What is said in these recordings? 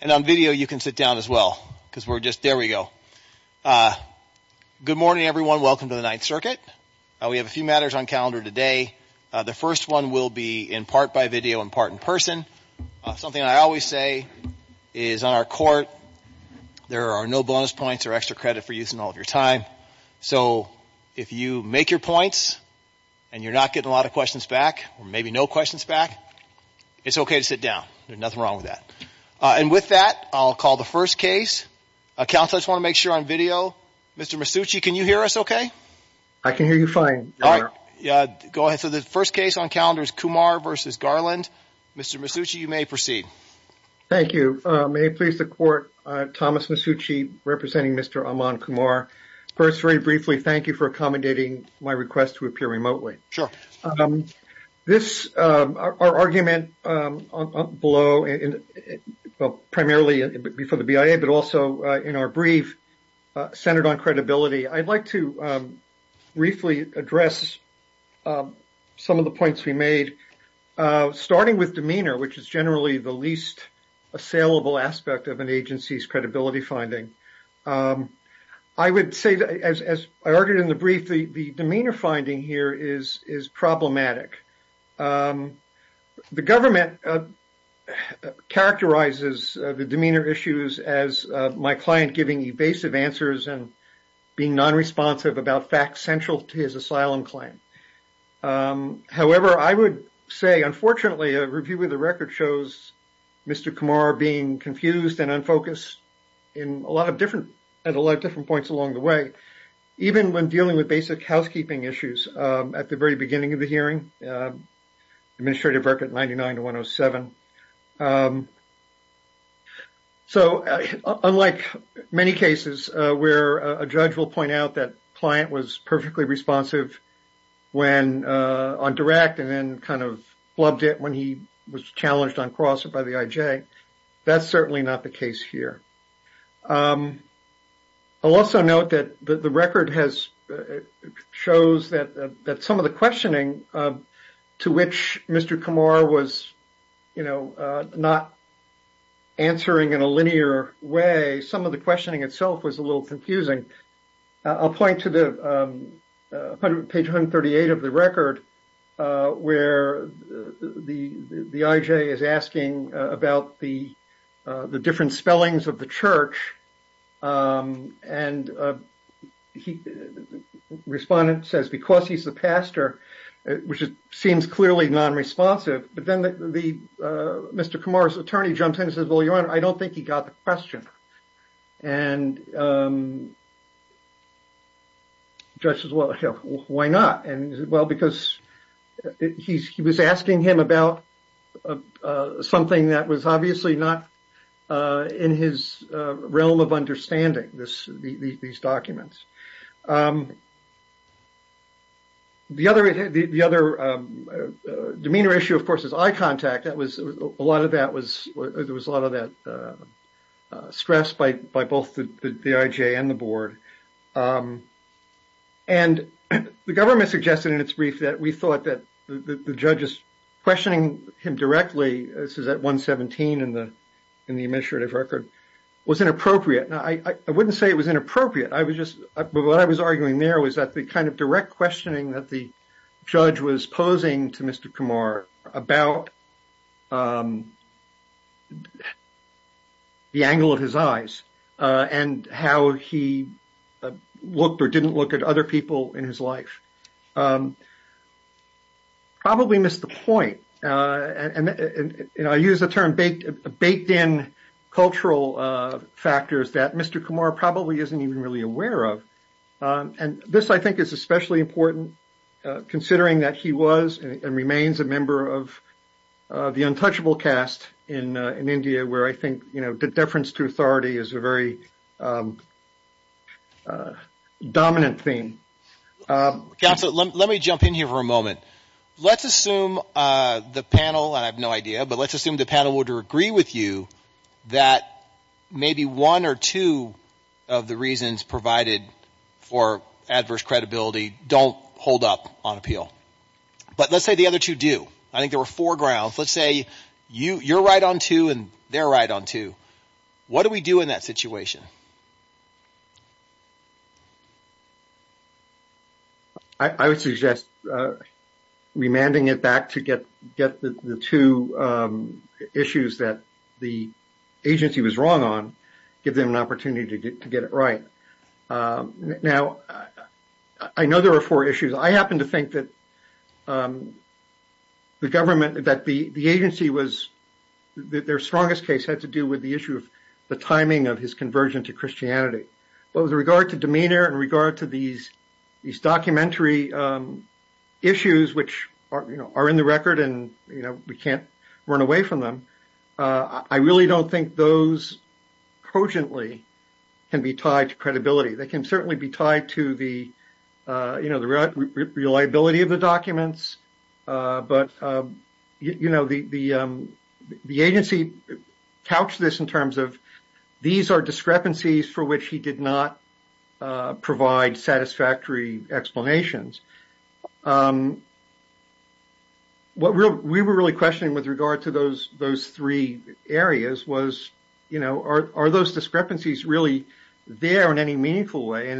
And on video, you can sit down as well, because we're just, there we go. Good morning, everyone. Welcome to the Ninth Circuit. We have a few matters on calendar today. The first one will be in part by video and part in person. Something I always say is on our court, there are no bonus points or extra credit for using all of your time. So if you make your points and you're not getting a lot of questions back, or maybe no questions back, it's okay to sit down. There's nothing wrong with that. And with that, I'll call the first case. Counsel, I just want to make sure on video, Mr. Masucci, can you hear us okay? I can hear you fine. All right. Go ahead. So the first case on calendar is Kumar v. Garland. Mr. Masucci, you may proceed. Thank you. May it please the court, Thomas Masucci representing Mr. Aman Kumar. First, very briefly, thank you for accommodating my request to appear remotely. Sure. This argument below, primarily before the BIA, but also in our brief centered on credibility, I'd like to briefly address some of the points we made, starting with demeanor, which is generally the least assailable aspect of an agency's credibility finding. I would say, as I argued in the brief, the demeanor finding here is problematic. The government characterizes the demeanor issues as my client giving evasive answers and being non-responsive about facts central to his asylum claim. However, I would say, unfortunately, a review of the record shows Mr. Kumar being confused and unfocused at a lot of different points along the way, even when dealing with basic housekeeping issues at the very beginning of the hearing, Administrative Record 99-107. So unlike many cases where a judge will point out that client was perfectly responsive on direct and then kind of flubbed it when he was challenged on cross or by the IJ, that's certainly not the case here. I'll also note that the record shows that some of the questioning to which Mr. Kumar was not answering in a linear way, some of the questioning itself was a little confusing. I'll point to page 138 of the record where the IJ is asking about the different spellings of the church and the respondent says, because he's the pastor, which seems clearly non-responsive, but then Mr. Kumar's attorney jumps in and says, well, your honor, I don't think he got the question. And the judge says, well, why not? And well, because he was asking him about something that was obviously not in his realm of understanding, these documents. The other demeanor issue, of course, is eye contact. A lot of that was, there was a lot of that stress by both the IJ and the board. And the government suggested in its brief that we thought that the judges questioning him directly, this is at 117 in the administrative record, was inappropriate. Now, I wouldn't say it was inappropriate. I was just, what I was arguing there was that the kind of direct questioning that the judge was posing to Mr. Kumar about the angle of his eyes and how he looked or didn't look at other people in his life probably missed the point. And I use the term baked in cultural factors that Mr. Kumar probably isn't even really aware of. And this, I think, is especially important considering that he was and remains a member of the untouchable cast in India, where I think, you know, the deference to authority is a very dominant theme. Counsel, let me jump in here for a moment. Let's assume the panel, and I have no idea, but let's assume the panel would agree with you that maybe one or two of the reasons provided for adverse credibility don't hold up on appeal. But let's say the other two do. I think there were four grounds. Let's say you're right on two and they're right on two. What do we do in that situation? I would suggest remanding it back to get the two issues that the agency was wrong on, give them an opportunity to get it right. Now, I know there are four issues. I happen to think that the government, that the agency was, their strongest case had to do with the timing of his conversion to Christianity. But with regard to demeanor and regard to these documentary issues, which are in the record and we can't run away from them, I really don't think those cogently can be tied to credibility. They can certainly be tied to the reliability of the documents. But, you know, the agency couched this in terms of these are discrepancies for which he did not provide satisfactory explanations. What we were really questioning with regard to those three areas was, you know, are those discrepancies really there in any meaningful way?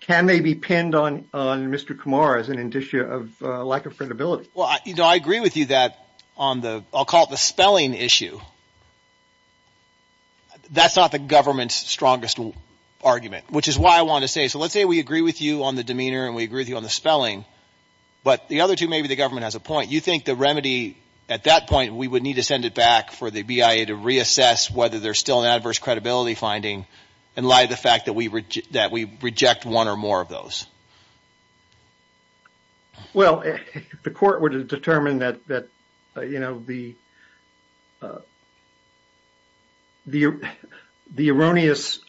Can they be pinned on Mr. Kumar as an indicia of lack of credibility? Well, you know, I agree with you that on the, I'll call it the spelling issue. That's not the government's strongest argument, which is why I want to say, so let's say we agree with you on the demeanor and we agree with you on the spelling. But the other two, maybe the government has a point. You think the remedy at that point, we would need to send it back for the BIA to reassess whether there's still an adverse credibility finding and lie the fact that we reject one or more of those? Well, the court would determine that, you know, the erroneous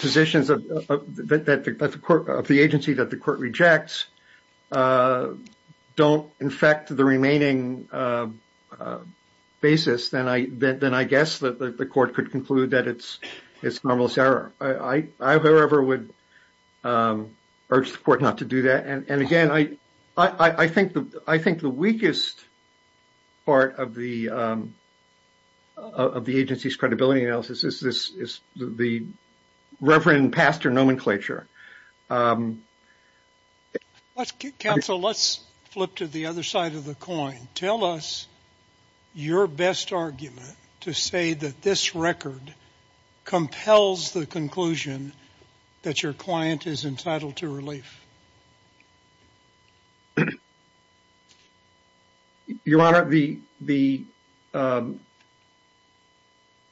positions of the agency that the court could conclude that it's normal error. I, however, would urge the court not to do that. And again, I think the weakest part of the agency's credibility analysis is the Reverend Pastor nomenclature. Counsel, let's flip to the other side of the coin. Tell us your best argument to say that this record compels the conclusion that your client is entitled to relief. Your Honor, the,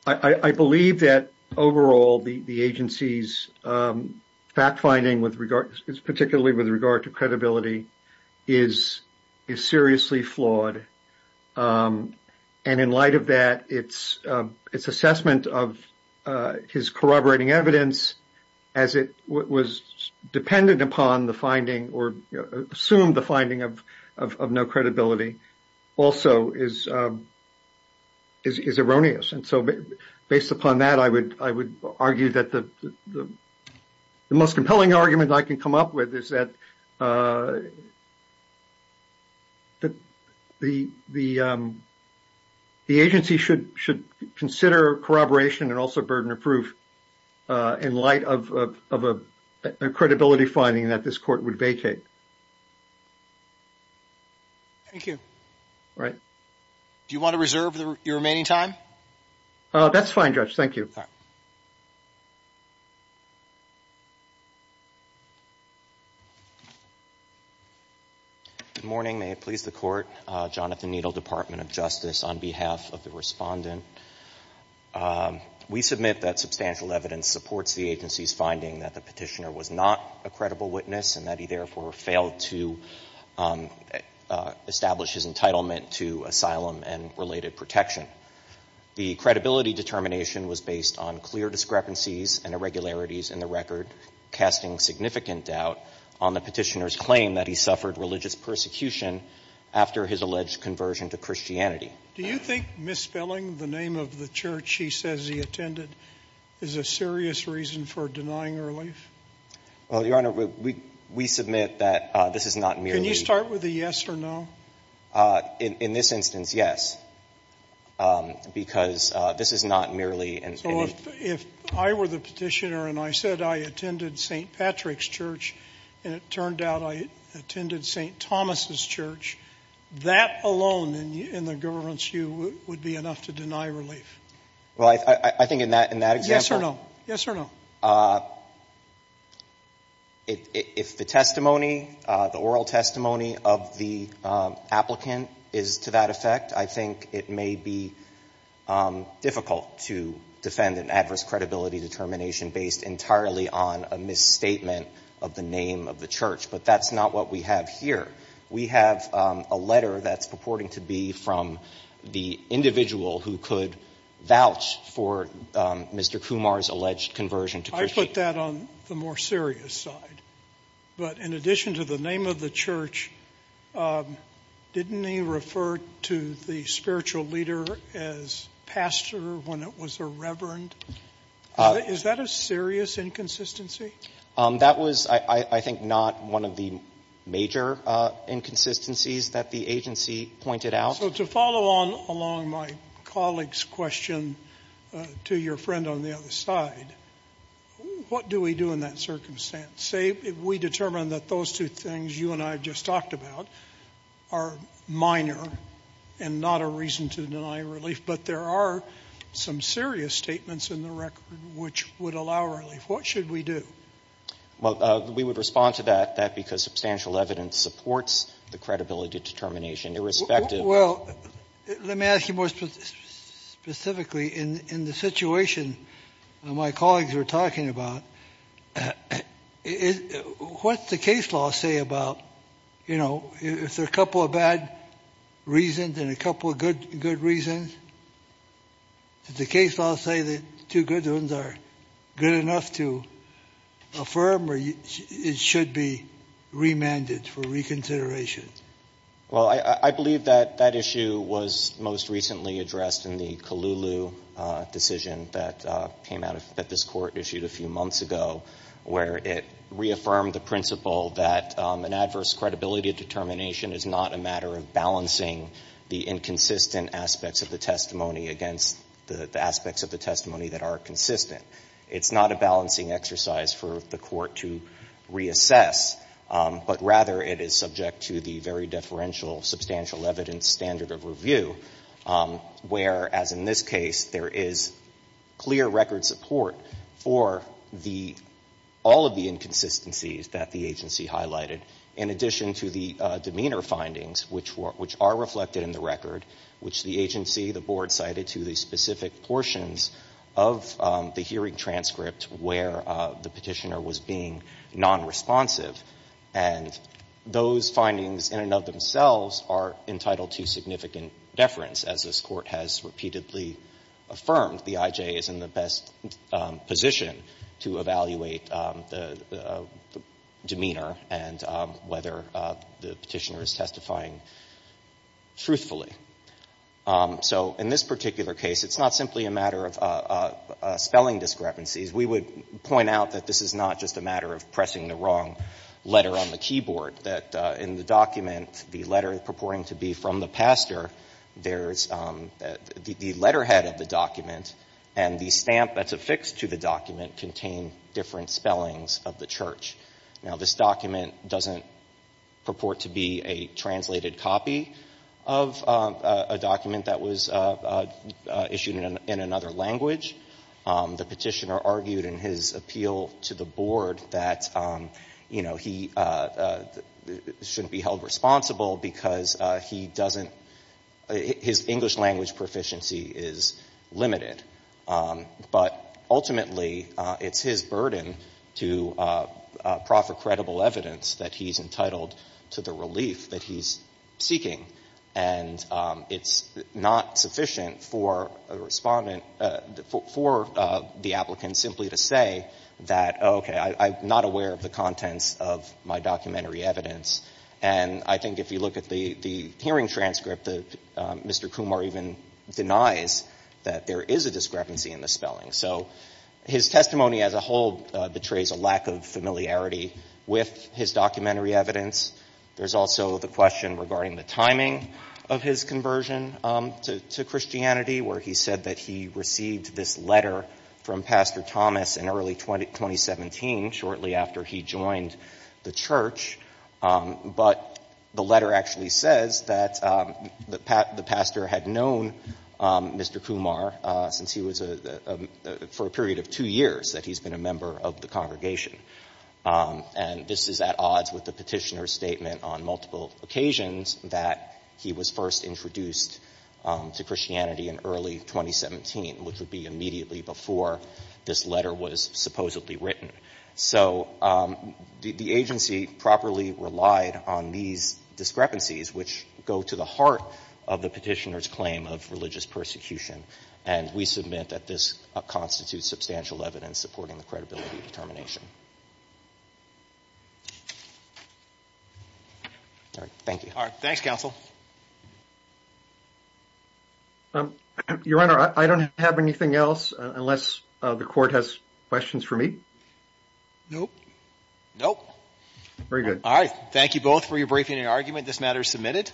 I believe that overall the agency's fact finding with regard, particularly with regard to credibility, is seriously flawed. And in light of that, its assessment of his corroborating evidence as it was dependent upon the finding or assumed the finding of no credibility also is erroneous. And so based upon that, I would argue that the most compelling argument I can come up with is that the agency should consider corroboration and also burden of proof in light of a credibility finding that this court would vacate. Thank you. All right. Do you want to reserve your remaining time? Oh, that's fine, Judge. Thank you. Good morning. May it please the court. Jonathan Needle, Department of Justice, on behalf of the respondent. We submit that substantial evidence supports the agency's finding that the petitioner was not a credible witness and that he therefore failed to establish his entitlement to asylum and related protection. The credibility determination was based on clear discrepancies and irregularities in the record, casting significant doubt on the petitioner's claim that he suffered religious persecution after his alleged conversion to Christianity. Do you think misspelling the name of the church he says he attended is a serious reason for denying relief? Well, Your Honor, we submit that this is not merely— Can you start with a yes or no? In this instance, yes. Because this is not merely— So if I were the petitioner and I said I attended St. Patrick's Church and it turned out I attended St. Thomas' Church, that alone in the government's view would be enough to deny relief? Well, I think in that example— Yes or no? Yes or no? If the testimony, the oral testimony of the applicant is to that effect, I think it may be difficult to defend an adverse credibility determination based entirely on a misstatement of the name of the church. But that's not what we have here. We have a letter that's purporting to be from the individual who could vouch for Mr. Kumar's alleged conversion to Christianity. I put that on the more serious side. But in addition to the name of the church, didn't he refer to the spiritual leader as pastor when it was a reverend? Is that a serious inconsistency? That was, I think, not one of the major inconsistencies that the agency pointed out. So to follow on along my colleague's question to your friend on the other side, what do we do in that circumstance? Say we determine that those two things you and I just talked about are minor and not a reason to deny relief, but there are some serious statements in the record which would allow relief. What should we do? Well, we would respond to that, that because substantial evidence supports the credibility determination, irrespective of— Well, let me ask you more specifically. In the situation my colleagues were talking about, what's the case law say about, you know, if there are a couple of bad reasons and a couple of good reasons, does the case law say that the two good ones are good enough to affirm or it should be remanded for reconsideration? Well, I believe that that issue was most recently addressed in the Colulu decision that came out of—that this court issued a few months ago, where it reaffirmed the principle that an adverse credibility determination is not a matter of balancing the inconsistent aspects of the testimony against the aspects of the testimony that are consistent. It's not a balancing exercise for the court to reassess, but rather it is subject to the very deferential substantial evidence standard of review, where, as in this case, there is clear record support for the—all of the inconsistencies that the agency highlighted in addition to the demeanor findings, which are reflected in the record, which the agency, the board cited to the specific portions of the hearing transcript where the petitioner was being nonresponsive. And those findings in and of themselves are entitled to significant deference, as this court has repeatedly affirmed. The IJ is in the best position to evaluate the demeanor and whether the petitioner is testifying truthfully. So in this particular case, it's not simply a matter of spelling discrepancies. We would point out that this is not just a matter of pressing the wrong letter on the keyboard, that in the document, the letter purporting to be from the pastor, there's the letterhead of the document and the stamp that's affixed to the document contain different spellings of the church. Now, this document doesn't purport to be a translated copy of a document that was issued in another language. The petitioner argued in his appeal to the board that he shouldn't be held responsible because he doesn't, his English language proficiency is limited. But ultimately, it's his burden to proffer credible evidence that he's entitled to the relief that he's seeking. And it's not sufficient for the applicant simply to say that, okay, I'm not aware of the contents of my documentary evidence. And I think if you look at the hearing transcript, Mr. Kumar even denies that there is a discrepancy in the spelling. So his testimony as a whole betrays a lack of familiarity with his documentary evidence. There's also the question regarding the timing of his conversion to Christianity, where he said that he received this letter from Pastor Thomas in early 2017, shortly after he joined the church. But the letter actually says that the pastor had known Mr. Kumar for a period of two years that he's been a member of the congregation. And this is at odds with the petitioner's statement on multiple occasions that he was first introduced to Christianity in early 2017, which would be immediately before this letter was supposedly written. So the agency properly relied on these discrepancies, which go to the heart of the petitioner's claim of religious persecution. And we submit that this constitutes substantial evidence supporting the credibility of determination. All right. Thank you. All right. Thanks, counsel. Your Honor, I don't have anything else unless the court has questions for me. Nope. Nope. Very good. All right. Thank you both for your briefing and argument. This matter is submitted.